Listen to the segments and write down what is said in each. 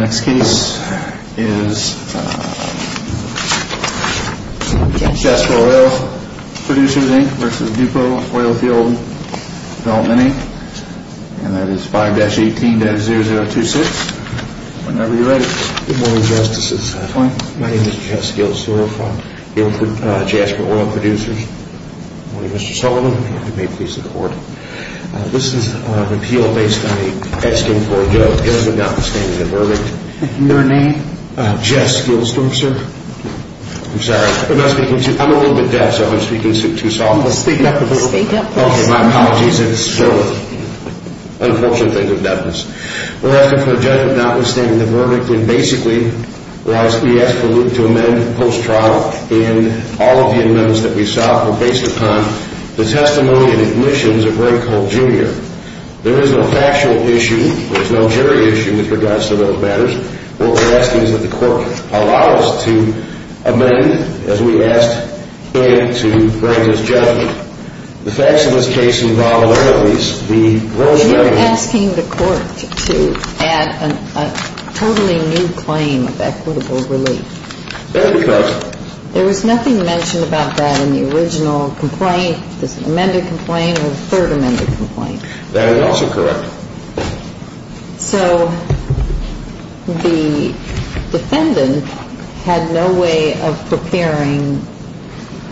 Next case is Jasper Oil Producers v. Dupo Oilfield Dev., Inc. That is 5-18-0026. Whenever you're ready. Good morning, Justices. My name is Jess Gillis. I work for Jasper Oil Producers. Good morning, Mr. Sullivan. If you may please support. This is an appeal based on a Edston Ford judge. Your name? Jess Gillis, sir. I'm sorry. I'm a little bit deaf, so I'm speaking too softly. Speak up a little. Okay, my apologies. It's still an unfortunate thing to have done this. We're asking for a judge not withstanding the verdict. And basically, we asked for Luke to amend post-trial. And all of the amendments that we sought were based upon the testimony and admissions of Ray Cole, Jr. There is no factual issue. There's no jury issue with regards to those matters. What we're asking is that the court allow us to amend as we asked Ed to bring his judgment. The facts of this case involve all of these. We are asking the court to add a totally new claim of equitable relief. There was nothing mentioned about that in the original complaint, the amended complaint or the third amended complaint. That is also correct. So the defendant had no way of preparing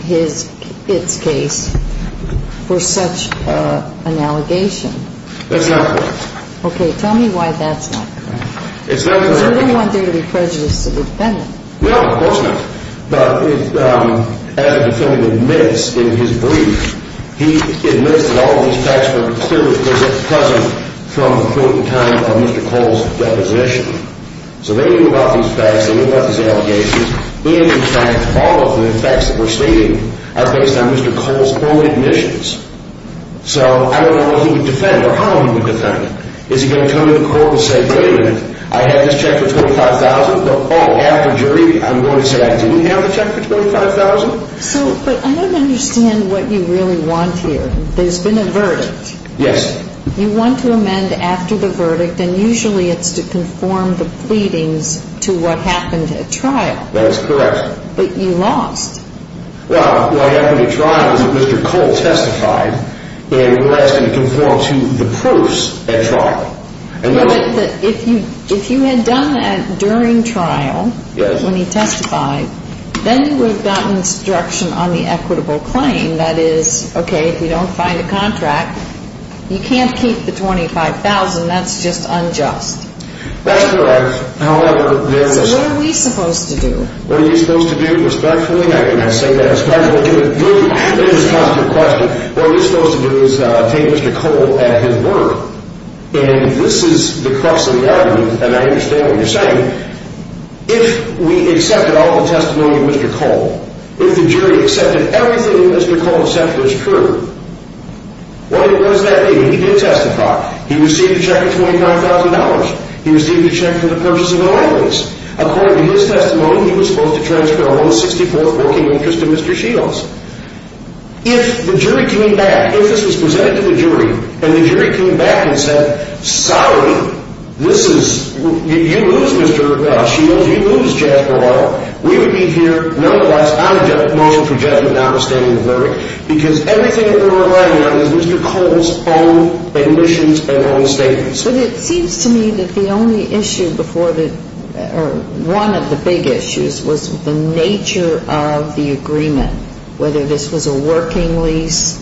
his case for such an allegation. That's not correct. Okay, tell me why that's not correct. Because we didn't want there to be prejudice to the defendant. No, of course not. But as the defendant admits in his brief, he admits that all of these facts were clearly present from the point in time of Mr. Cole's deposition. So they knew about these facts. They knew about these allegations. And, in fact, all of the facts that were stated are based on Mr. Cole's own admissions. So I don't know what he would defend or how he would defend it. Is he going to come to the court and say, wait a minute, I have this check for $25,000. Oh, after jury, I'm going to say I didn't have the check for $25,000? So, but I don't understand what you really want here. There's been a verdict. Yes. You want to amend after the verdict, and usually it's to conform the pleadings to what happened at trial. That's correct. But you lost. Well, what happened at trial is that Mr. Cole testified, and we're asking to conform to the proofs at trial. But if you had done that during trial when he testified, then you would have gotten instruction on the equitable claim. That is, okay, if you don't find a contract, you can't keep the $25,000. That's just unjust. That's correct. So what are we supposed to do? What are you supposed to do? Respectfully, I cannot say that. Respectfully, give a good, responsive question. What are you supposed to do is take Mr. Cole at his word? And this is the crux of the argument, and I understand what you're saying. If we accepted all the testimony of Mr. Cole, if the jury accepted everything that Mr. Cole said was true, what does that mean? He did testify. He received a check of $25,000. He received a check for the purchase of oil rigs. According to his testimony, he was supposed to transfer a $164 working interest to Mr. Shields. If the jury came back, if this was presented to the jury, and the jury came back and said, sorry, you lose, Mr. Shields, you lose Jasper Oil, we would be here nonetheless on a motion for judgment notwithstanding the verdict because everything that we're relying on is Mr. Cole's own admissions and own statements. But it seems to me that the only issue before the, or one of the big issues was the nature of the agreement, whether this was a working lease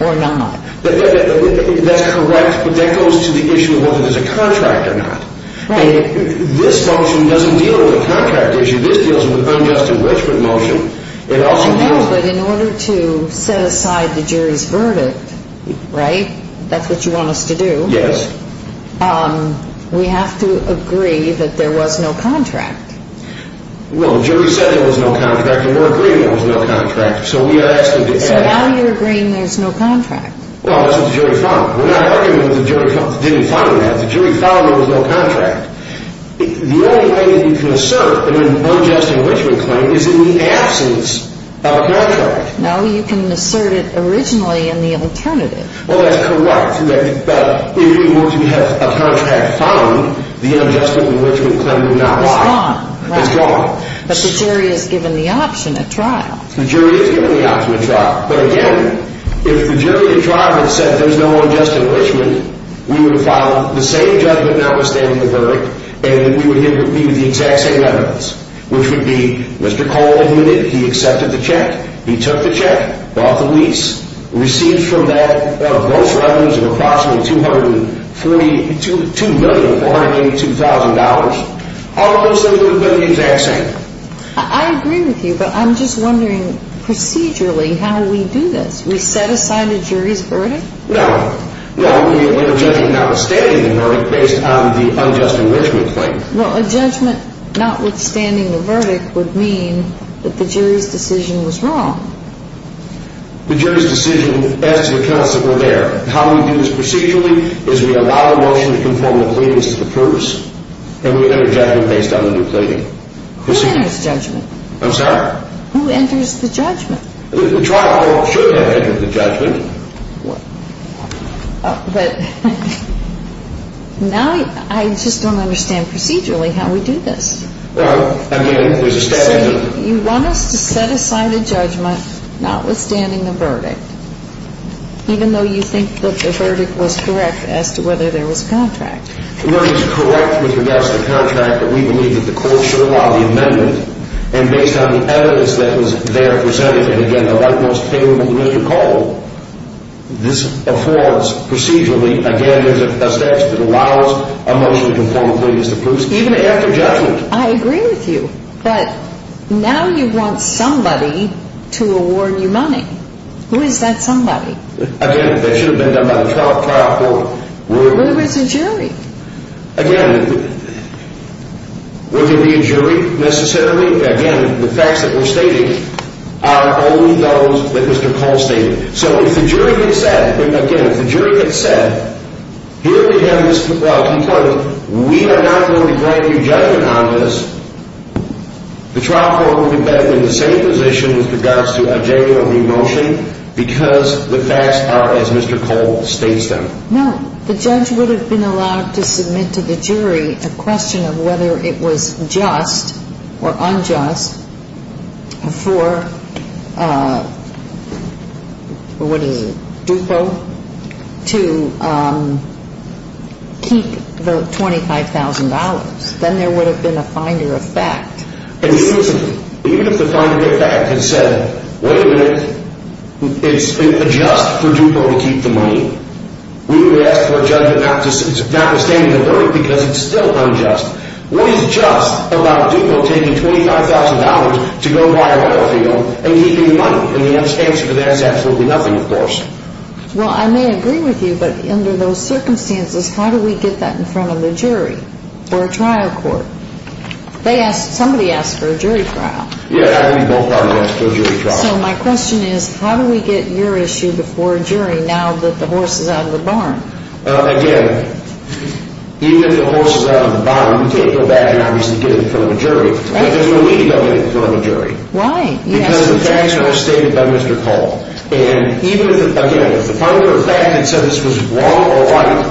or not. That's correct, but that goes to the issue of whether there's a contract or not. Right. This motion doesn't deal with a contract issue. This deals with an unjust enrichment motion. I know, but in order to set aside the jury's verdict, right, that's what you want us to do. Yes. We have to agree that there was no contract. Well, the jury said there was no contract, and we're agreeing there was no contract. So we are asking to add. So now you're agreeing there's no contract. Well, that's what the jury found. We're not arguing that the jury didn't find that. The jury found there was no contract. The only way that you can assert that an unjust enrichment claim is in the absence of a contract. No, you can assert it originally in the alternative. Well, that's correct, but if you were to have a contract found, the unjust enrichment claim would not have gone. It's gone, right. It's gone. But the jury has given the option at trial. The jury has given the option at trial. But again, if the jury at trial had said there's no unjust enrichment, we would have filed the same judgment notwithstanding the verdict, and we would be with the exact same evidence, which would be Mr. Cole admitted he accepted the check, he took the check, bought the lease, received from that gross revenues of approximately $282,000. All of those things would have been the exact same. I agree with you, but I'm just wondering procedurally how we do this. We set aside a jury's verdict? No. No, we are judging notwithstanding the verdict based on the unjust enrichment claim. Well, a judgment notwithstanding the verdict would mean that the jury's decision was wrong. The jury's decision as to the counts that were there. How we do this procedurally is we allow the motion to conform to the pleadings as the purpose, and we enter judgment based on the new claiming. Who enters judgment? I'm sorry? Who enters the judgment? The trial should have entered the judgment. But now I just don't understand procedurally how we do this. Well, again, there's a step in it. See, you want us to set aside a judgment notwithstanding the verdict, even though you think that the verdict was correct as to whether there was a contract. The verdict is correct with regards to the contract, but we believe that the court should allow the amendment, and based on the evidence that was there presented, and, again, the rightmost claim of Mr. Cole, this affords procedurally, again, there's a statute that allows a motion to conform to the pleadings of the proofs, even after judgment. I agree with you, but now you want somebody to award you money. Who is that somebody? Again, that should have been done by the trial court. Well, there is a jury. Again, would there be a jury necessarily? Again, the facts that we're stating are only those that Mr. Cole stated. So if the jury had said, again, if the jury had said, here we have this complaint, we are not going to grant you judgment on this, the trial court would have been in the same position with regards to a genuine remotion because the facts are as Mr. Cole states them. No. The judge would have been allowed to submit to the jury a question of whether it was just or unjust for, what is it, DuPo to keep the $25,000. Then there would have been a finder of fact. Even if the finder of fact had said, wait a minute, it's just for DuPo to keep the money, we would ask for a judgment notwithstanding the verdict because it's still unjust. What is just about DuPo taking $25,000 to go buy a oil field and keeping the money? And the answer to that is absolutely nothing, of course. Well, I may agree with you, but under those circumstances, how do we get that in front of the jury or a trial court? Somebody asked for a jury trial. Yeah, I think we both are going to ask for a jury trial. So my question is, how do we get your issue before a jury now that the horse is out of the barn? Again, even if the horse is out of the barn, we can't go back and obviously get it in front of a jury. Right. Because we don't need to go get it in front of a jury. Why? Because the facts were stated by Mr. Cole. And again, if the finder of fact had said this was wrong or right,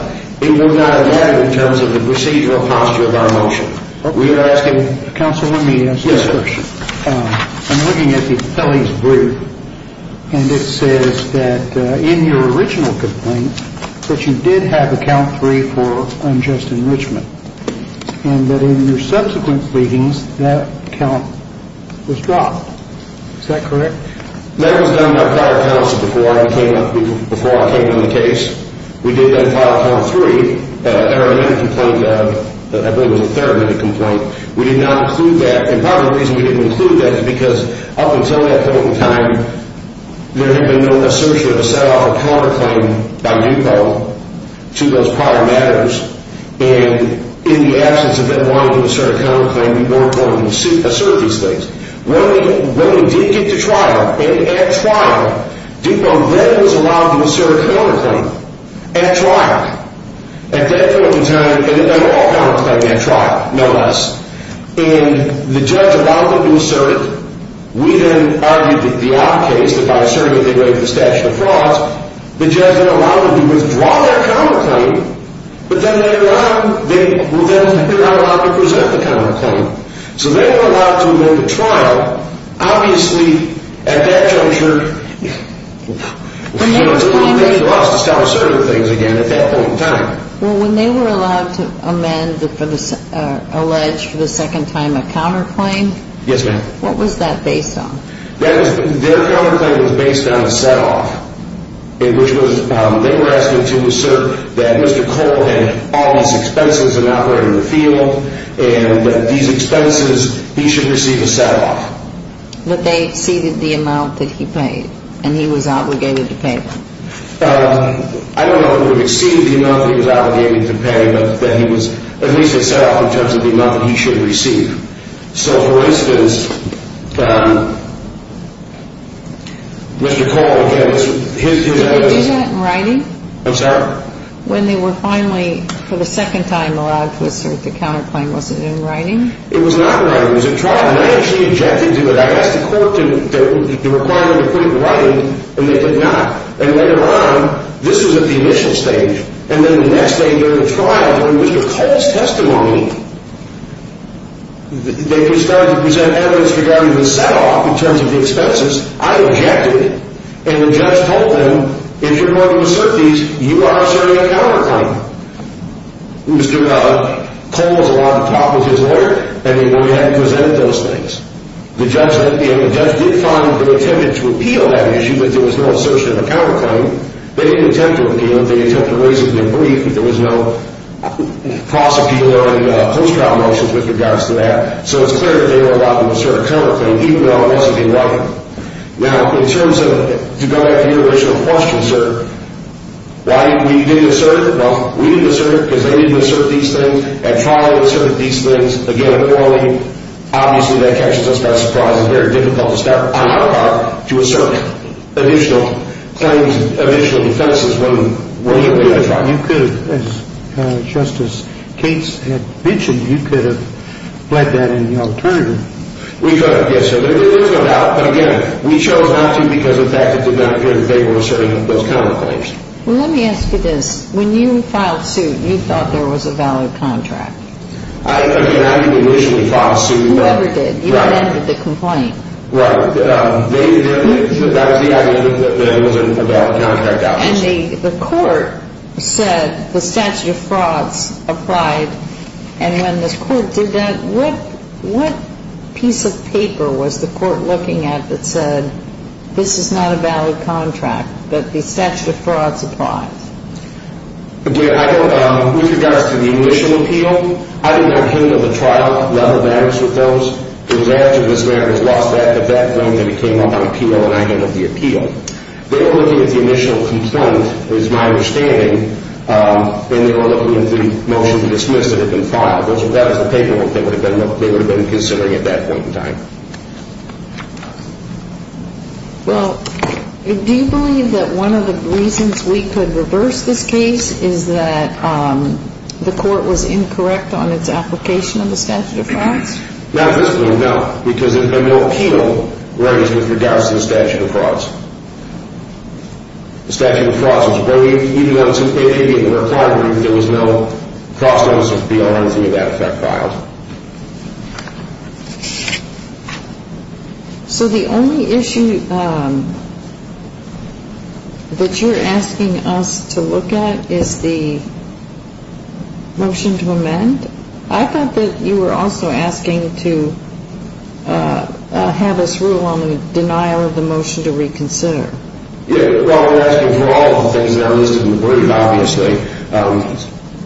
it would not have mattered in terms of the procedural posture of our motion. Okay. Counsel, let me ask you a question. Yes, sir. I'm looking at the appellee's brief, and it says that in your original complaint, that you did have a count three for unjust enrichment, and that in your subsequent pleadings, that count was dropped. Is that correct? That was done by prior counsel before I came on the case. We did that prior count three. Our amendment complaint, I believe it was a third amendment complaint, we did not include that. And part of the reason we didn't include that is because up until that point in time, there had been no assertion of a set-off of counterclaim by DUPO to those prior matters. And in the absence of them wanting to assert a counterclaim, we worked on and asserted these things. When we did get to trial, and at trial, DUPO then was allowed to assert a counterclaim. At trial. At that point in time, and all counterclaims at trial, no less. And the judge allowed them to assert. We then argued that the odd case, that by asserting that they break the statute of frauds, the judge then allowed them to withdraw their counterclaim, but then they were not allowed to present the counterclaim. So they were allowed to make a trial. Now, obviously, at that juncture, you know, it's coming back to us to start asserting things again at that point in time. Well, when they were allowed to amend, allege for the second time, a counterclaim? Yes, ma'am. What was that based on? Their counterclaim was based on a set-off. They were asking to assert that Mr. Cole had all these expenses in operating the field, and that these expenses, he should receive a set-off. But they exceeded the amount that he paid, and he was obligated to pay them. I don't know if it exceeded the amount that he was obligated to pay, but that he was at least a set-off in terms of the amount that he should receive. So, for instance, Mr. Cole, again, it's his idea. Did they do that in writing? I'm sorry? When they were finally, for the second time, allowed to assert the counterclaim, was it in writing? It was not in writing. It was a trial, and I actually objected to it. I asked the court the requirement to put it in writing, and they did not. And later on, this was at the initial stage. And then the next day during the trial, during Mr. Cole's testimony, they started to present evidence regarding the set-off in terms of the expenses. I objected. And the judge told them, if you're going to assert these, you are asserting a counterclaim. Mr. Cole was allowed to talk with his lawyer, and he only had to present those things. The judge did find, in an attempt to repeal that issue, that there was no assertion of a counterclaim. They didn't attempt to repeal it. They attempted to raise it in their brief, but there was no cross-appeal or any post-trial motions with regards to that. So it's clear that they were allowed to assert a counterclaim, even though it must have been in writing. Now, in terms of, to go back to your original question, sir, why we didn't assert it, well, we didn't assert it because they didn't assert these things. At trial, they asserted these things. Again, appointing, obviously, that catches us by surprise. It's very difficult to start on our part to assert additional claims and additional defenses when we get a trial. You could have, just as Kate had mentioned, you could have fled that in the alternative. We could have, yes, sir. But, again, we chose not to because, in fact, it did not appear that they were asserting those counterclaims. Well, let me ask you this. When you filed suit, you thought there was a valid contract. I mean, I didn't initially file a suit. Whoever did. Right. You amended the complaint. Right. That was the argument that there wasn't a valid contract out there. And the court said the statute of frauds applied. And when the court did that, what piece of paper was the court looking at that said, this is not a valid contract, that the statute of frauds applied? With regards to the initial appeal, I didn't have any of the trial level matters with those. It was after this matter was lost at that point that it came up on appeal and I handled the appeal. They were looking at the initial complaint, is my understanding, and they were looking at the motion to dismiss that had been filed. That was the paperwork they would have been considering at that point in time. Well, do you believe that one of the reasons we could reverse this case is that the court was incorrect on its application of the statute of frauds? Not physically, no. Because there had been no appeal raised with regards to the statute of frauds. The statute of frauds was removed, even though it was an immediate requirement, there was no cross-notice appeal or anything of that effect filed. So the only issue that you're asking us to look at is the motion to amend? I thought that you were also asking to have us rule on the denial of the motion to reconsider. Yeah, well, we're asking for all of the things that are listed in the brief, obviously.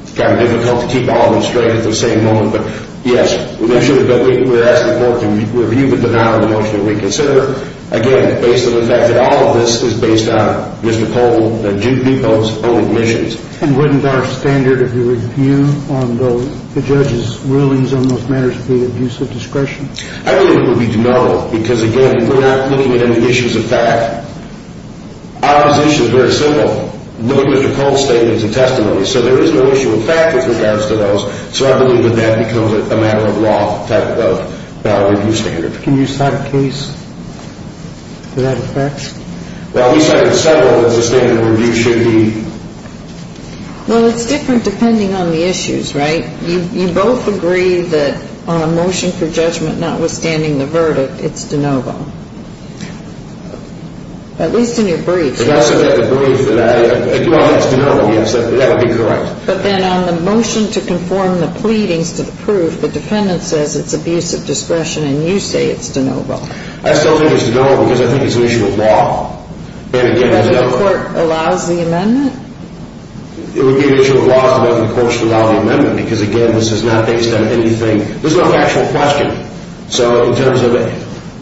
It's kind of difficult to keep all of them straight at the same moment. But, yes, we're asking the court to review the denial of the motion to reconsider, again, based on the fact that all of this is based on Mr. Pohl and Judy Pohl's own admissions. And wouldn't our standard of review on the judge's rulings on those matters be abuse of discretion? I believe it would be no, because, again, we're not looking at any issues of fact. Our position is very simple, looking at the Pohl statements and testimonies. So there is no issue of fact with regards to those. So I believe that that becomes a matter-of-law type of review standard. Can you cite a case to that effect? Well, at least I can settle that the standard of review should be... Well, it's different depending on the issues, right? You both agree that on a motion for judgment notwithstanding the verdict, it's de novo. At least in your brief. If I said that in the brief, that I agree that it's de novo, yes, that would be correct. But then on the motion to conform the pleadings to the proof, the defendant says it's abuse of discretion, and you say it's de novo. I still think it's de novo, because I think it's an issue of law. And, again, there's no... If the court allows the amendment? It would be an issue of law if the court should allow the amendment, because, again, this is not based on anything... This is not an actual question. So in terms of...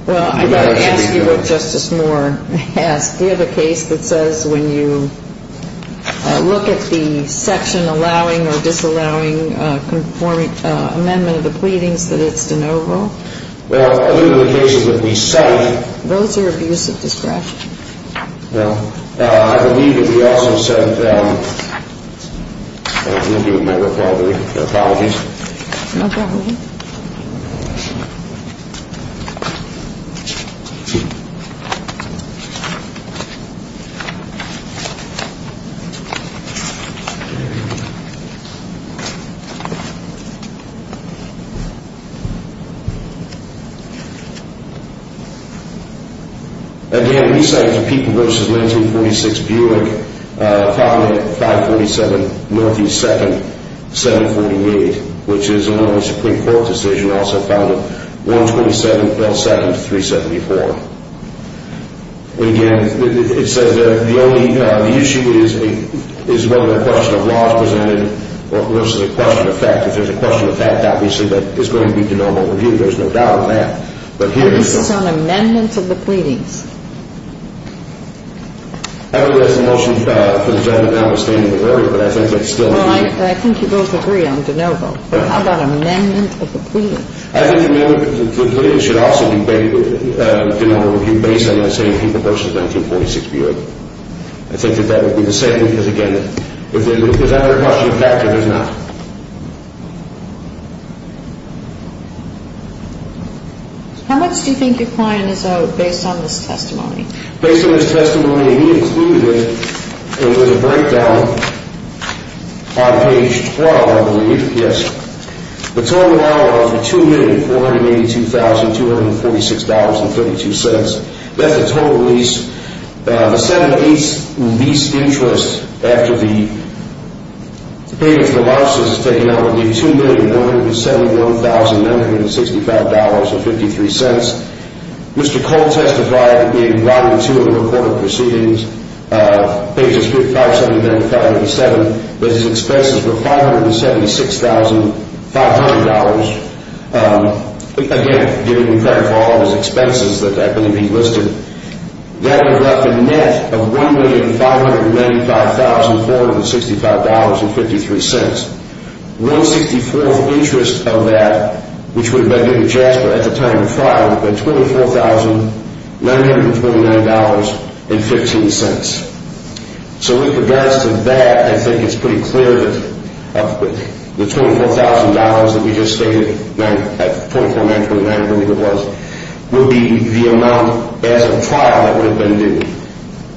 Well, I've got to ask you what Justice Moore asked. Do you have a case that says when you look at the section allowing or disallowing amendment of the pleadings that it's de novo? Well, I look at the cases that we cite... Those are abuse of discretion. Well, I believe that we also said... I'm going to give him my apologies. No problem. And, again, we cited the people v. Linton, 46 Buick, probably at 547 Northeast 2nd, 748, which is along the Supreme Court. The Supreme Court decision also found it 127, 127 to 374. And, again, it says the only... The issue is whether a question of law is presented versus a question of fact. If there's a question of fact, obviously that is going to be de novo reviewed. There's no doubt on that. But here... This is on amendments of the pleadings. Everybody has a motion for the gentleman notwithstanding the verdict, but I think they still... Well, I think you both agree on de novo. But how about amendment of the pleadings? I think the amendment of the pleadings should also be de novo reviewed based on that same people v. Linton, 46 Buick. I think that that would be the same because, again, if there's ever a question of fact, there is not. How much do you think your client is owed based on this testimony? Based on this testimony, and he included it in the breakdown on page 12, I believe. Yes. The total amount of $2,482,246.32. That's the total lease. The 7-8 lease interest after the payment for the losses is taken out would be $2,171,965.53. Mr. Cole testified in Rodman 2 of the recorded proceedings, pages 55, 77, and 57, that his expenses were $576,500. Again, he clarified all of his expenses that happen to be listed. That would have left a net of $1,595,465.53. One-sixty-fourth interest of that, which would have been due to Jasper at the time of the trial, would have been $24,929.15. So with regards to that, I think it's pretty clear that the $24,000 that we just stated, $24,929, I believe it was, would be the amount as of trial that would have been due.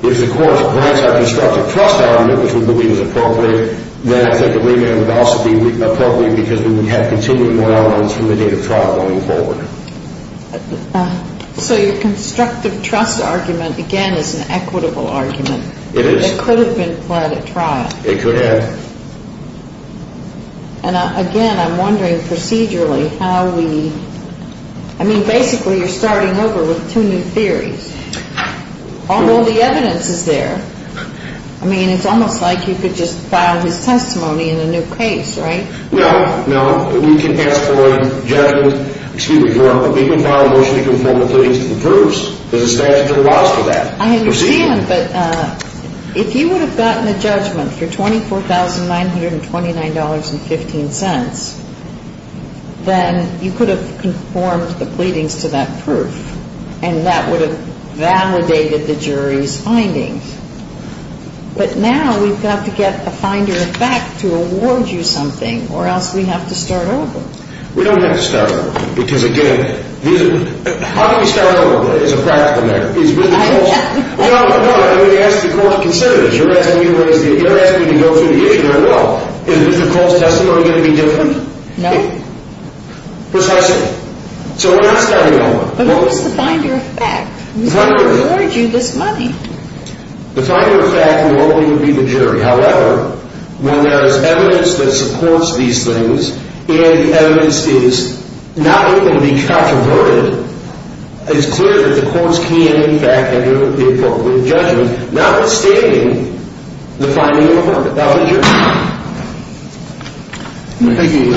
If the court grants our constructive trust argument, which we believe is appropriate, then I think a remand would also be appropriate, because we would have continued more elements from the date of trial going forward. So your constructive trust argument, again, is an equitable argument. It is. It could have been pled at trial. It could have. And again, I'm wondering procedurally how we, I mean, basically you're starting over with two new theories. All the evidence is there. I mean, it's almost like you could just file his testimony in a new case, right? No, no. We can ask for a judgment. Excuse me, Your Honor, but we can file a motion to conform the pleadings to the proofs. There's a statute that allows for that. I understand, but if you would have gotten a judgment for $24,929.15, then you could have conformed the pleadings to that proof. And that would have validated the jury's findings. But now we've got to get a finder back to award you something, or else we have to start over. We don't have to start over, because, again, how can we start over as a practical matter? I don't know. No, no. I mean, you're asking the court to consider this. You're asking me to go through the issue. I know. Is Mr. Cole's testimony going to be different? No. Precisely. So we're not starting over. But what is the finder of fact? We've got to award you this money. The finder of fact will only be the jury. However, when there is evidence that supports these things, and the evidence is not able to be transferred, it's clear that the courts can, in fact, enter into a court with a judgment, notwithstanding the finding of the verdict. That was the jury. Thank you.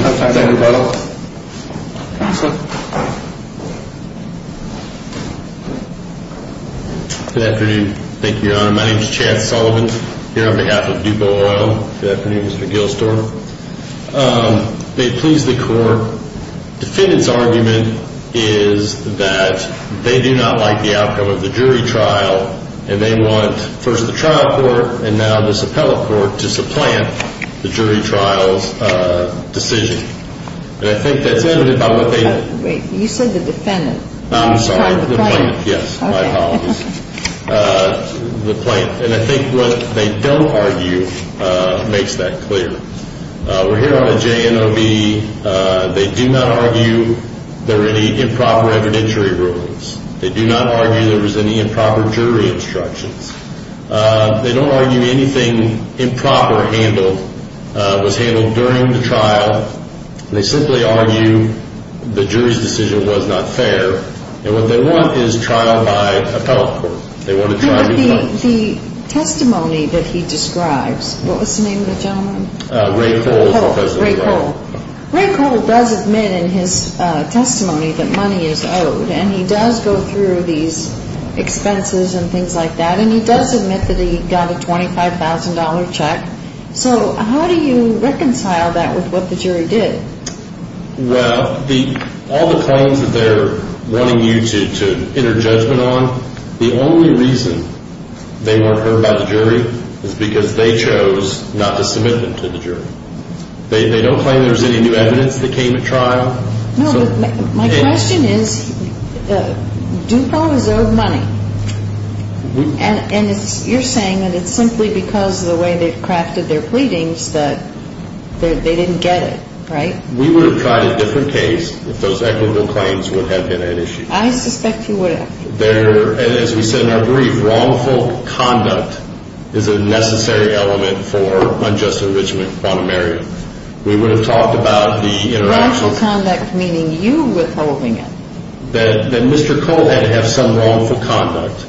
Thank you, Your Honor. My name is Chad Sullivan, here on behalf of Dubo Oil. Good afternoon, Mr. McGill-Storer. They've pleased the court. Defendant's argument is that they do not like the outcome of the jury trial, and they want first the trial court and now this appellate court to supplant the jury trial's decision. And I think that's evident by what they did. You said the defendant. I'm sorry, the plaintiff. Yes, my apologies. The plaintiff. And I think what they don't argue makes that clear. We're here on a JNOB. They do not argue there are any improper evidentiary rulings. They do not argue there was any improper jury instructions. They don't argue anything improper was handled during the trial. They simply argue the jury's decision was not fair. And what they want is trial by appellate court. But the testimony that he describes, what was the name of the gentleman? Ray Cole. Ray Cole. Ray Cole does admit in his testimony that money is owed, and he does go through these expenses and things like that, and he does admit that he got a $25,000 check. So how do you reconcile that with what the jury did? Well, all the claims that they're wanting you to enter judgment on, the only reason they weren't heard by the jury is because they chose not to submit them to the jury. They don't claim there's any new evidence that came at trial. No, but my question is, Dupont is owed money. And you're saying that it's simply because of the way they've crafted their pleadings that they didn't get it, right? We would have tried a different case if those equitable claims would have been an issue. I suspect you would have. And as we said in our brief, wrongful conduct is a necessary element for unjust enrichment of quantum area. We would have talked about the interaction. Wrongful conduct meaning you withholding it. That Mr. Cole had to have some wrongful conduct.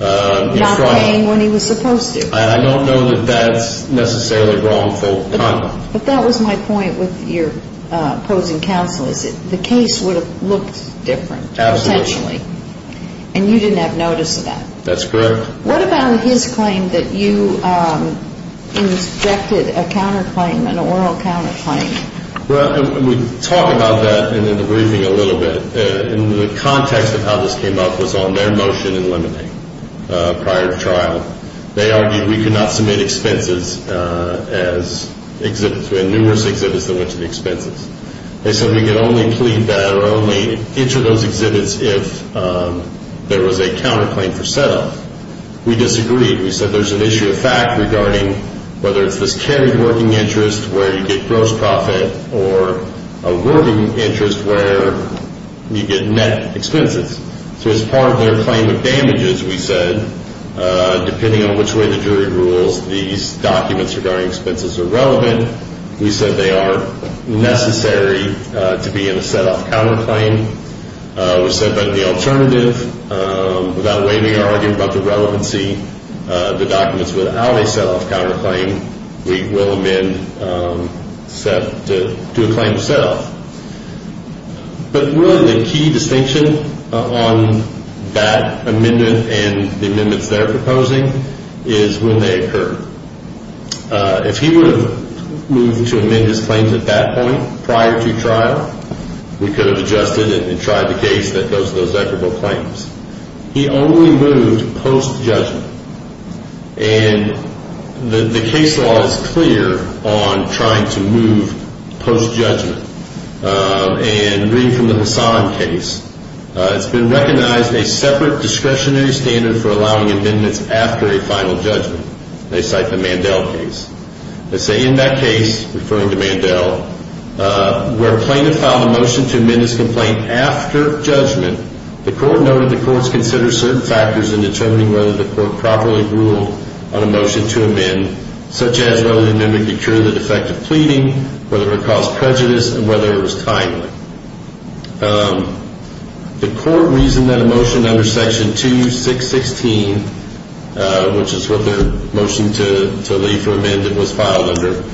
Not paying when he was supposed to. I don't know that that's necessarily wrongful conduct. But that was my point with your opposing counsel is that the case would have looked different, potentially. Absolutely. And you didn't have notice of that. That's correct. What about his claim that you inspected a counterclaim, an oral counterclaim? Well, we talked about that in the briefing a little bit. And the context of how this came up was on their motion in Lemonade prior to trial. They argued we could not submit expenses as exhibits. We had numerous exhibits that went to the expenses. They said we could only plead that or only enter those exhibits if there was a counterclaim for sale. We disagreed. We said there's an issue of fact regarding whether it's this carried working interest where you get gross profit or a working interest where you get net expenses. So as part of their claim of damages, we said, depending on which way the jury rules, these documents regarding expenses are relevant. We said they are necessary to be in a set-off counterclaim. We said that the alternative, without waiving our argument about the relevancy, the documents without a set-off counterclaim, we will amend to a claim of set-off. But really the key distinction on that amendment and the amendments they're proposing is when they occur. If he would have moved to amend his claims at that point prior to trial, we could have adjusted and tried the case that goes to those equitable claims. He only moved post-judgment. And the case law is clear on trying to move post-judgment. And reading from the Hassan case, it's been recognized a separate discretionary standard for allowing amendments after a final judgment. They cite the Mandel case. They say in that case, referring to Mandel, where a plaintiff filed a motion to amend his complaint after judgment, the court noted the courts consider certain factors in determining whether the court properly ruled on a motion to amend, such as whether the amendment could cure the defect of pleading, whether it caused prejudice, and whether it was timely. The court reasoned that a motion under Section 2616, which is what their motion to leave for amendment was filed under,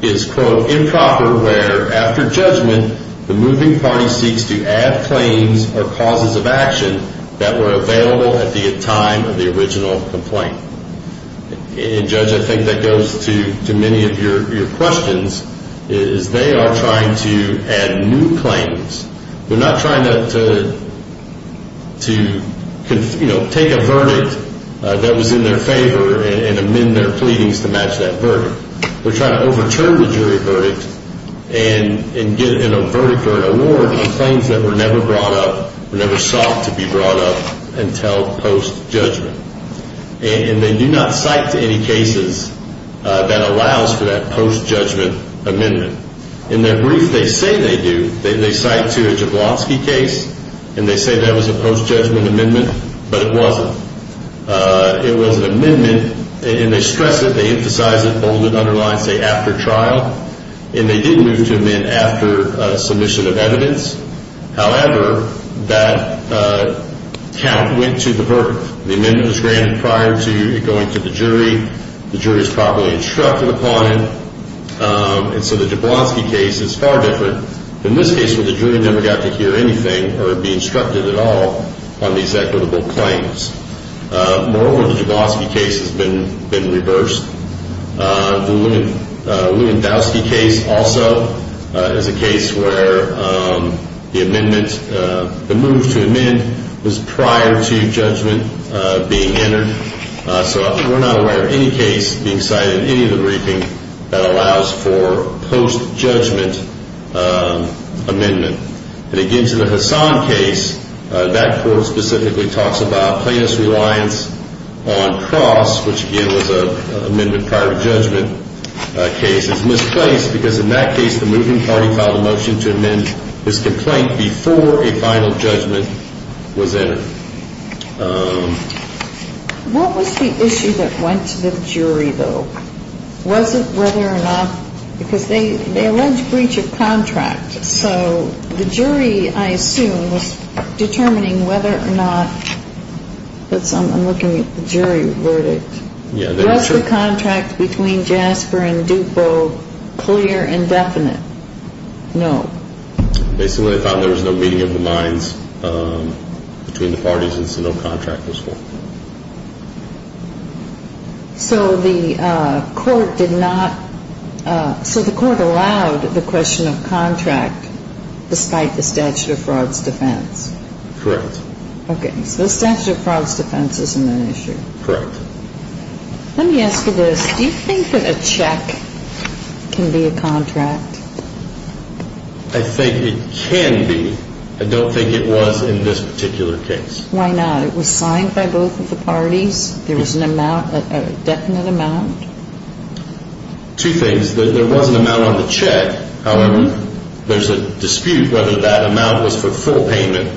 is, quote, improper where, after judgment, the moving party seeks to add claims or causes of action that were available at the time of the original complaint. And, Judge, I think that goes to many of your questions, is they are trying to add new claims. We're not trying to, you know, take a verdict that was in their favor and amend their pleadings to match that verdict. We're trying to overturn the jury verdict and get a verdict or an award on claims that were never sought to be brought up until post-judgment. And they do not cite to any cases that allows for that post-judgment amendment. In their brief, they say they do. They cite to a Jablonski case, and they say that was a post-judgment amendment, but it wasn't. It was an amendment, and they stress it. They emphasize it, bold it, underline, say, after trial. And they did move to amend after submission of evidence. However, that count went to the verdict. The amendment was granted prior to it going to the jury. The jury is properly instructed upon it. And so the Jablonski case is far different. In this case where the jury never got to hear anything or be instructed at all on these equitable claims. Moreover, the Jablonski case has been reversed. The Lewandowski case also is a case where the amendment, the move to amend was prior to judgment being entered. So we're not aware of any case being cited in any of the briefings that allows for post-judgment amendment. And again, to the Hassan case, that court specifically talks about plaintiff's reliance on cross, which again was an amendment prior to judgment case. It's misplaced because in that case the moving party filed a motion to amend this complaint before a final judgment was entered. What was the issue that went to the jury, though? Was it whether or not, because they allege breach of contract. So the jury, I assume, was determining whether or not, I'm looking at the jury verdict. Was the contract between Jasper and Dupo clear and definite? No. Basically they thought there was no meeting of the minds between the parties and so no contract was formed. So the court did not, so the court allowed the question of contract despite the statute of frauds defense? Correct. Okay, so the statute of frauds defense isn't an issue. Correct. Let me ask you this. Do you think that a check can be a contract? I think it can be. I don't think it was in this particular case. Why not? It was signed by both of the parties. There was an amount, a definite amount. Two things. There was an amount on the check. However, there's a dispute whether that amount was for full payment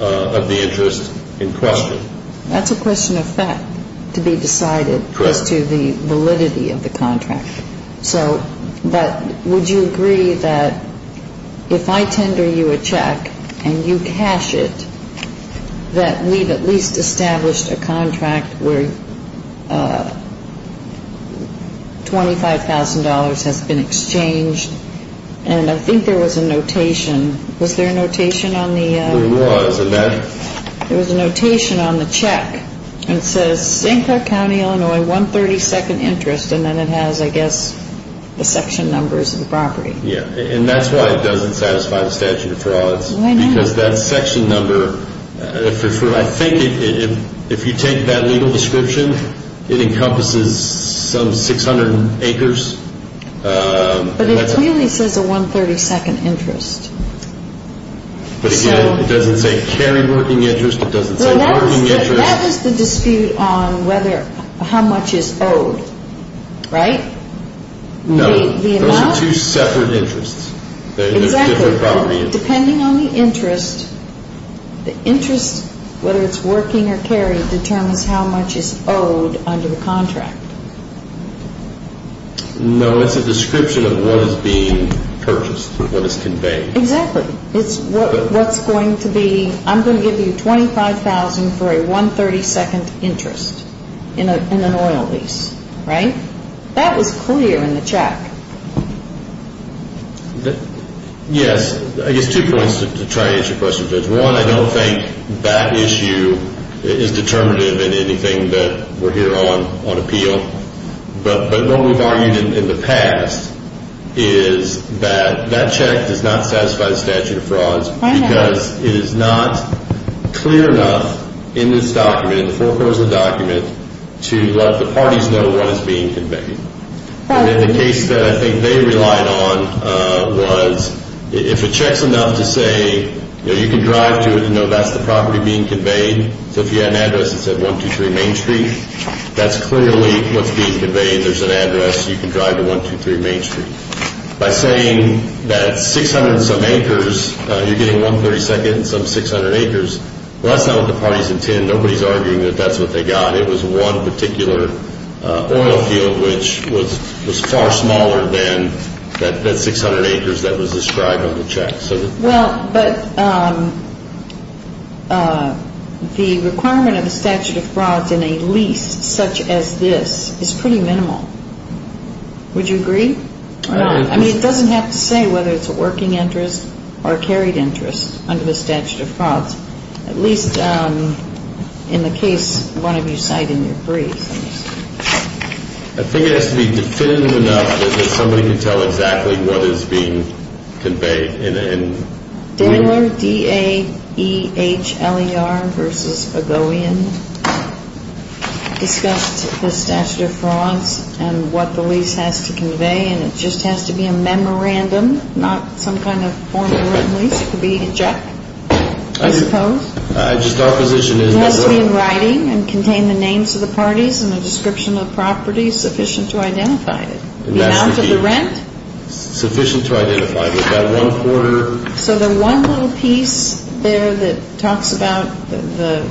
of the interest in question. That's a question of fact to be decided as to the validity of the contract. But would you agree that if I tender you a check and you cash it, that we've at least established a contract where $25,000 has been exchanged? And I think there was a notation. Was there a notation on the check? There was. There was a notation on the check. And it says St. Clark County, Illinois, 132nd interest. And then it has, I guess, the section numbers of the property. Yeah. And that's why it doesn't satisfy the statute of frauds. Why not? Because that section number, I think if you take that legal description, it encompasses some 600 acres. But it clearly says a 132nd interest. But again, it doesn't say carry working interest. It doesn't say working interest. That is the dispute on how much is owed, right? No. The amount? Those are two separate interests. Exactly. Depending on the interest, the interest, whether it's working or carry, determines how much is owed under the contract. No, it's a description of what is being purchased, what is conveyed. Exactly. It's what's going to be, I'm going to give you $25,000 for a 132nd interest in an oil lease, right? That was clear in the check. Yes. I guess two points to try to answer your question, Judge. One, I don't think that issue is determinative in anything that we're here on appeal. But what we've argued in the past is that that check does not satisfy the statute of frauds. Why not? Because it is not clear enough in this document, in the foreclosure document, to let the parties know what is being conveyed. The case that I think they relied on was if a check's enough to say, you know, you can drive to it and know that's the property being conveyed. So if you had an address that said 123 Main Street, that's clearly what's being conveyed. There's an address. You can drive to 123 Main Street. By saying that's 600 and some acres, you're getting 132nd and some 600 acres. Well, that's not what the parties intend. Nobody's arguing that that's what they got. It was one particular oil field which was far smaller than that 600 acres that was described on the check. Well, but the requirement of a statute of frauds in a lease such as this is pretty minimal. Would you agree? I mean, it doesn't have to say whether it's a working interest or a carried interest under the statute of frauds. At least in the case one of you cite in your briefs. I think it has to be definitive enough that somebody can tell exactly what is being conveyed. Danieler, D-A-E-H-L-E-R versus Ogoian discussed the statute of frauds and what the lease has to convey, and it just has to be a memorandum, not some kind of formal written lease. It could be a check, I suppose. It has to be in writing and contain the names of the parties and a description of the property sufficient to identify it. The amount of the rent? Sufficient to identify it, about one quarter. So the one little piece there that talks about the,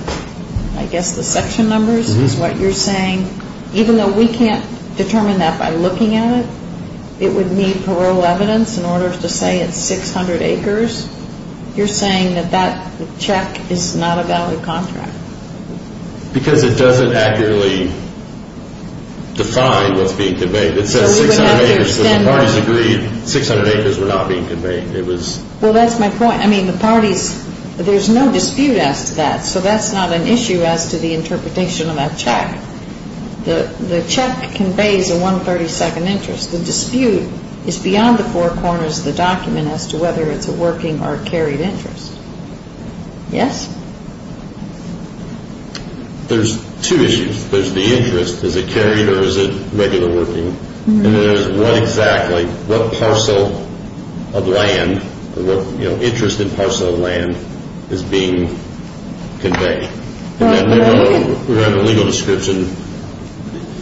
I guess, the section numbers is what you're saying. Even though we can't determine that by looking at it, it would need parole evidence in order to say it's 600 acres. You're saying that that check is not a valid contract. Because it doesn't accurately define what's being conveyed. It says 600 acres, so the parties agreed 600 acres were not being conveyed. Well, that's my point. I mean, the parties, there's no dispute as to that, so that's not an issue as to the interpretation of that check. The check conveys a 132nd interest. The dispute is beyond the four corners of the document as to whether it's a working or a carried interest. Yes? There's two issues. There's the interest. Is it carried or is it regular working? And then there's what exactly, what parcel of land, what interest in parcel of land is being conveyed? And that regular legal description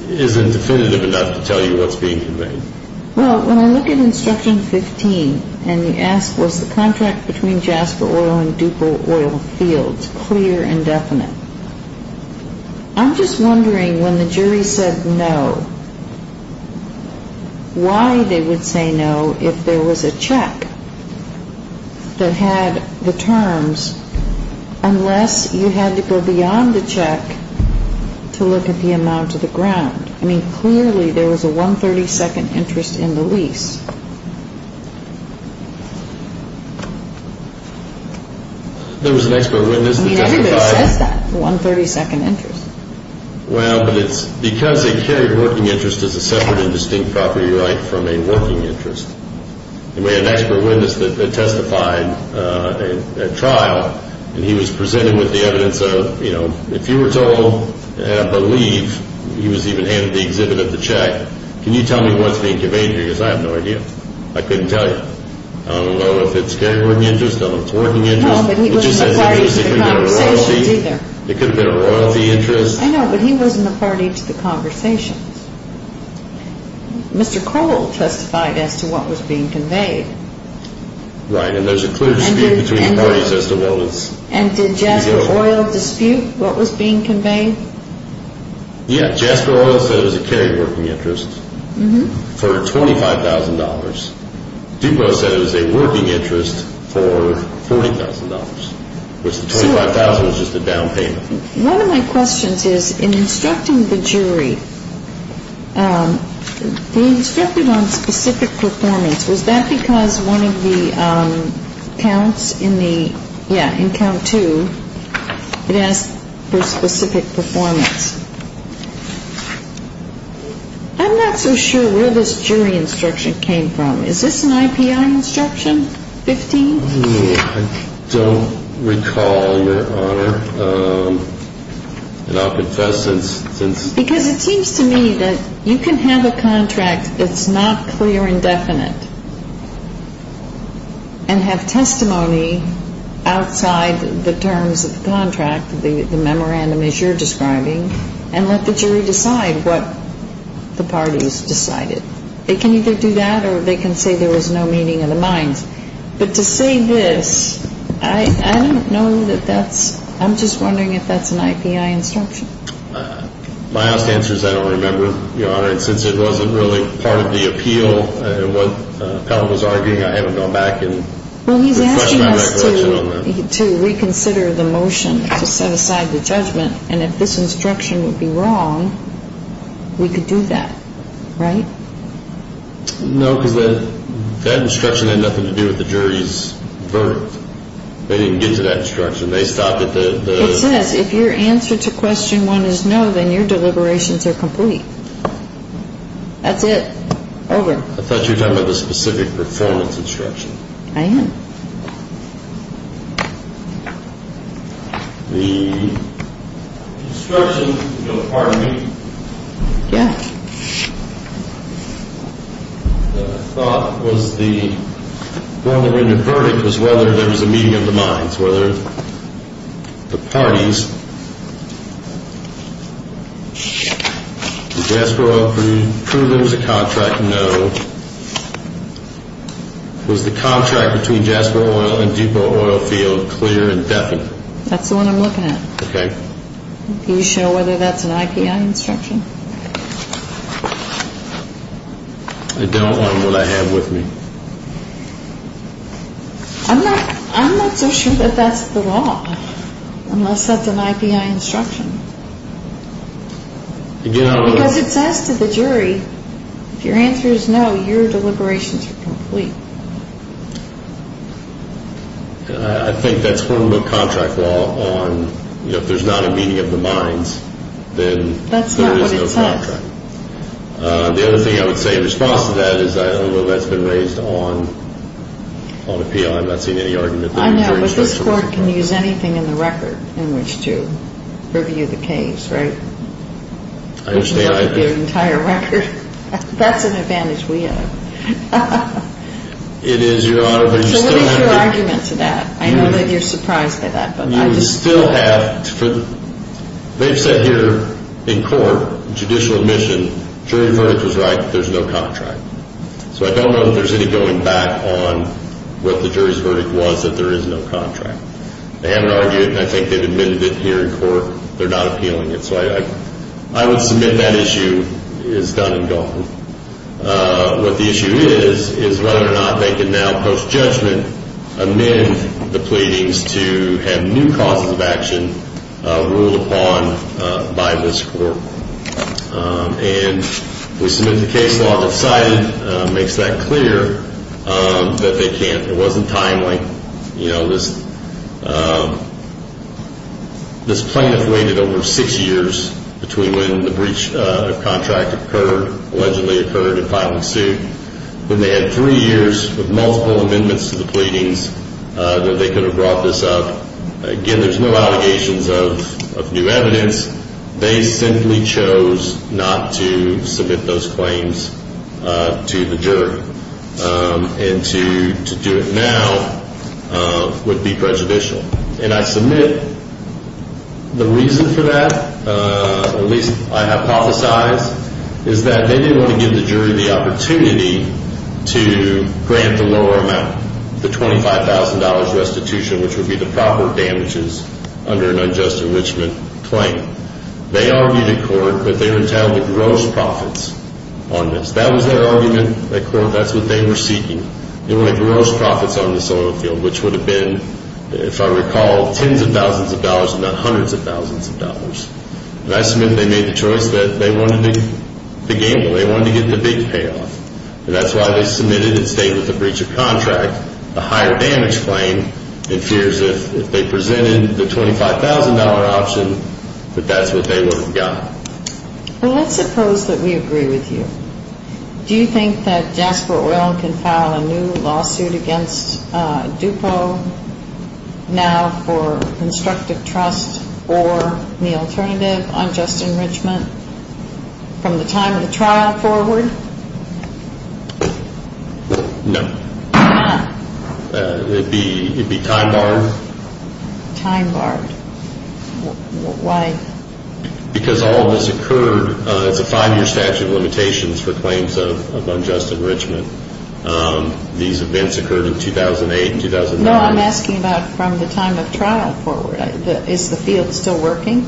isn't definitive enough to tell you what's being conveyed. Well, when I look at Instruction 15 and you ask, was the contract between Jasper Oil and Dupo Oil Fields clear and definite? I'm just wondering when the jury said no, why they would say no if there was a check that had the terms, unless you had to go beyond the check to look at the amount of the ground. I mean, clearly there was a 132nd interest in the lease. There was an expert witness that testified. I mean, everybody says that, 132nd interest. Well, but it's because they carried working interest as a separate and distinct property right from a working interest. And we had an expert witness that testified at trial, and he was presented with the evidence of, you know, if you were told, and I believe he was even handed the exhibit of the check, can you tell me what's being conveyed here because I have no idea. I couldn't tell you. I don't know if it's carried working interest or it's working interest. No, but he wasn't a party to the conversations either. It could have been a royalty interest. I know, but he wasn't a party to the conversations. Mr. Cole testified as to what was being conveyed. Right, and there's a clear dispute between the parties as to what was. And did Jasper Oil dispute what was being conveyed? Yeah, Jasper Oil said it was a carried working interest for $25,000. DuPro said it was a working interest for $40,000, which the $25,000 was just a down payment. One of my questions is, in instructing the jury, they instructed on specific performance. Was that because one of the counts in the, yeah, in count two, it asked for specific performance. I'm not so sure where this jury instruction came from. Is this an IPI instruction, 15th? I don't recall, Your Honor, and I'll confess since. Because it seems to me that you can have a contract that's not clear and definite and have testimony outside the terms of the contract, the memorandum as you're describing, and let the jury decide what the parties decided. They can either do that or they can say there was no meeting of the minds. But to say this, I don't know that that's, I'm just wondering if that's an IPI instruction. My last answer is I don't remember, Your Honor, and since it wasn't really part of the appeal and what the appellant was arguing, I haven't gone back and refreshed my recollection on that. Well, he's asking us to reconsider the motion to set aside the judgment, and if this instruction would be wrong, we could do that, right? No, because that instruction had nothing to do with the jury's verdict. They didn't get to that instruction. It says if your answer to question one is no, then your deliberations are complete. That's it. Over. I thought you were talking about the specific performance instruction. I am. The instruction, if you'll pardon me. Yeah. The thought was the one that rendered verdict was whether there was a meeting of the minds, whether the parties, did Jasper Oil prove there was a contract? No. Was the contract between Jasper Oil and Depot Oil Field clear and definite? That's the one I'm looking at. Okay. Are you sure whether that's an IPI instruction? I don't on what I have with me. I'm not so sure that that's the law, unless that's an IPI instruction. Because it says to the jury, if your answer is no, your deliberations are complete. I think that's one of the contract law on, you know, if there's not a meeting of the minds, then there is no contract. That's not what it says. The other thing I would say in response to that is, I don't know whether that's been raised on appeal. I'm not seeing any argument there. I know, but this court can use anything in the record in which to review the case, right? I understand IPI. The entire record. That's an advantage we have. It is, Your Honor, but you still have to... So what is your argument to that? I know that you're surprised by that, but I just... You still have to... They've said here in court, judicial admission, jury verdict was right that there's no contract. So I don't know that there's any going back on what the jury's verdict was that there is no contract. They haven't argued, and I think they've admitted it here in court. They're not appealing it. So I would submit that issue is done and gone. What the issue is, is whether or not they can now, post-judgment, amend the pleadings to have new causes of action ruled upon by this court. And we submit the case law decided. It makes that clear that they can't. It wasn't timely. This plaintiff waited over six years between when the breach of contract occurred, allegedly occurred, and finally sued. When they had three years with multiple amendments to the pleadings, that they could have brought this up. Again, there's no allegations of new evidence. And to do it now would be prejudicial. And I submit the reason for that, at least I hypothesize, is that they didn't want to give the jury the opportunity to grant the lower amount, the $25,000 restitution, which would be the proper damages under an unjust enrichment claim. They argued in court that they were entitled to gross profits on this. That was their argument. In court, that's what they were seeking. They wanted gross profits on this oil field, which would have been, if I recall, tens of thousands of dollars and not hundreds of thousands of dollars. And I submit they made the choice that they wanted to gamble. They wanted to get the big payoff. And that's why they submitted and stayed with the breach of contract, the higher damage claim, in fears that if they presented the $25,000 option, that that's what they would have got. Well, let's suppose that we agree with you. Do you think that Jasper Oil can file a new lawsuit against DUPO now for constructive trust or the alternative unjust enrichment from the time of the trial forward? No. It would be time barred. Time barred. Why? Because all of this occurred. It's a five-year statute of limitations for claims of unjust enrichment. These events occurred in 2008 and 2009. No, I'm asking about from the time of trial forward. Is the field still working?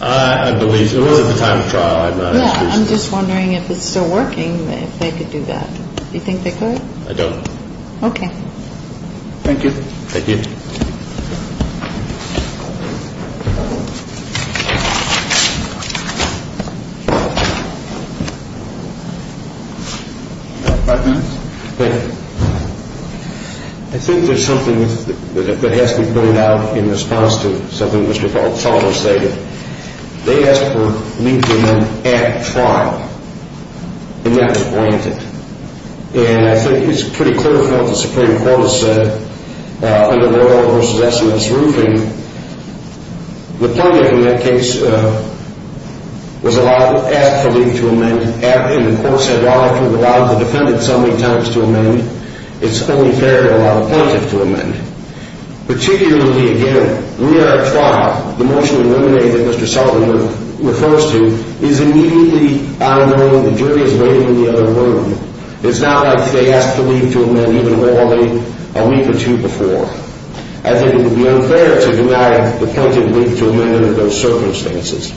I believe it was at the time of trial. I'm not as sure. Yeah, I'm just wondering if it's still working, if they could do that. Do you think they could? I don't. Okay. Thank you. Thank you. Thank you. I think there's something that has to be pointed out in response to something Mr. Balzano stated. They asked for Lincoln at trial, and that was blanketed. And I think it's pretty clear from what the Supreme Court has said, under the oil versus estimates roofing, the plaintiff, in that case, was asked to leave to amend, and the court said, well, if you've allowed the defendant so many times to amend, it's only fair to allow the plaintiff to amend. Particularly, again, near our trial, the motion eliminated that Mr. Sullivan refers to is immediately out of the room and the jury is waiting in the other room. It's not like they asked to leave to amend even a week or two before. I think it would be unfair to deny the plaintiff leave to amend under those circumstances.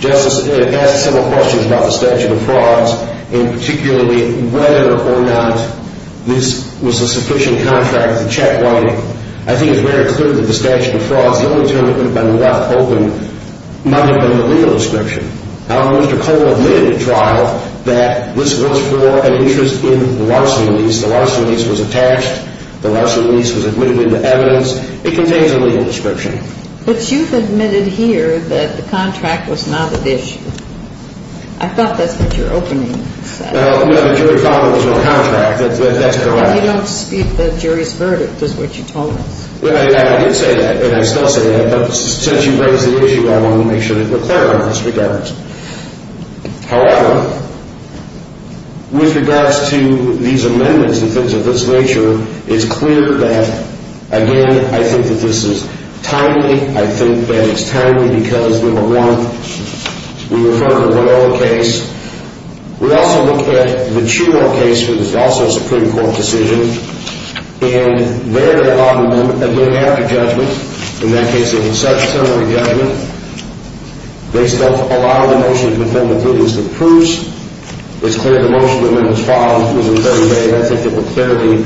Justice, it asks several questions about the statute of frauds, and particularly whether or not this was a sufficient contract to check one. I think it's very clear that the statute of frauds, the only term it put up on the left open, might have been the legal description. However, Mr. Cole admitted at trial that this was for an interest in the larceny lease. The larceny lease was attached. The larceny lease was admitted into evidence. It contains a legal description. But you've admitted here that the contract was not at issue. I thought that's what your opening said. Well, no, the jury found there was no contract. That's correct. And you don't dispute the jury's verdict, is what you told us. Well, I did say that, and I still say that, but since you raised the issue, I wanted to make sure that it was clear in those regards. However, with regards to these amendments and things of this nature, it's clear that, again, I think that this is timely. I think that it's timely because, number one, we refer to a one-off case. We also look at the Truro case, which is also a Supreme Court decision, and there there are a lot of them, and they have a judgment. In that case, it was a subsequent judgment. Based on a lot of the motions before me, including some proofs, it's clear the motion that went as follows was very vague. I think it was fairly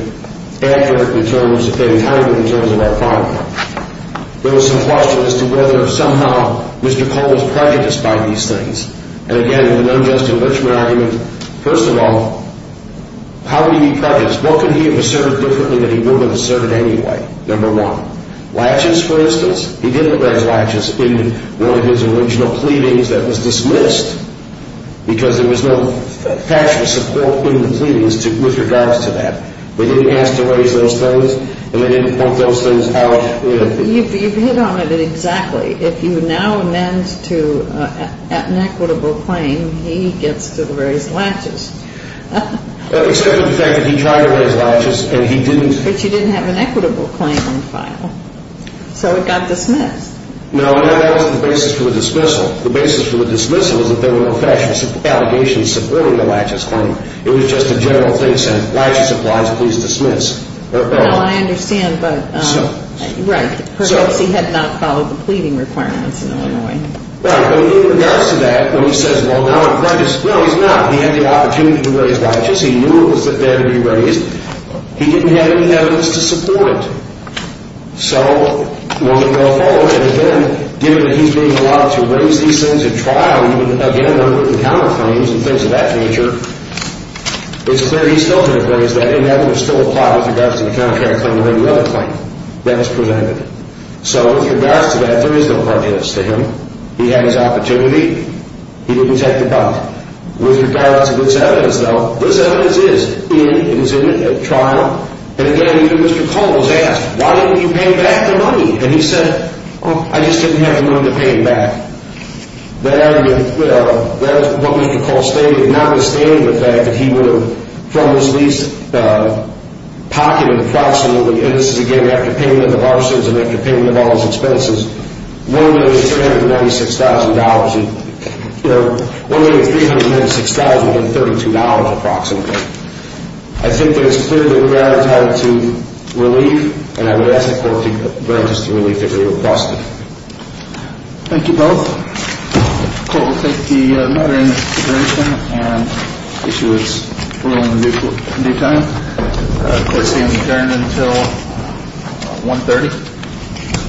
accurate in terms of timing in terms of our finding. There was some question as to whether somehow Mr. Cole was prejudiced by these things. And, again, an unjust enrichment argument. First of all, how would he be prejudiced? What could he have asserted differently that he wouldn't have asserted anyway? Number one, latches, for instance. He didn't raise latches in one of his original pleadings that was dismissed because there was no factual support in the pleadings with regards to that. They didn't ask to raise those things, and they didn't point those things out. You've hit on it exactly. If you now amend to an equitable claim, he gets to raise latches. Except for the fact that he tried to raise latches, and he didn't. But you didn't have an equitable claim on file, so it got dismissed. No, and that wasn't the basis for the dismissal. The basis for the dismissal was that there were no factual allegations supporting the latches claim. It was just a general thing saying, latches applied, so please dismiss. No, I understand, but perhaps he had not followed the pleading requirements in Illinois. Right, but in regards to that, when he says, well, now I'm prejudiced, no, he's not. He had the opportunity to raise latches. He knew it was that they had to be raised. He didn't have any evidence to support it. So, well, maybe they'll follow it. But then, given that he's being allowed to raise these things at trial, even, again, under written counterclaims and things of that nature, it's clear he's still going to raise that, and that would still apply with regards to the counterclaim or any other claim that was presented. So, with regards to that, there is no prejudice to him. He had his opportunity. He didn't take the bite. With regards to this evidence, though, this evidence is in, it was in at trial. And, again, even Mr. Cole was asked, why didn't you pay back the money? And he said, oh, I just didn't have the money to pay it back. That was what Mr. Cole stated, notwithstanding the fact that he would have, from his lease pocketed approximately, and this is, again, after payment of arsons and after payment of all his expenses, $1,396,000. You know, $1,396,000 and $32,000 approximately. I think that it's clearly a gratitude to relief, and I would ask the court to grant us the relief that we requested. Thank you both. The court will take the matter into consideration, and issue its ruling in due time. Court is adjourned until 1.30.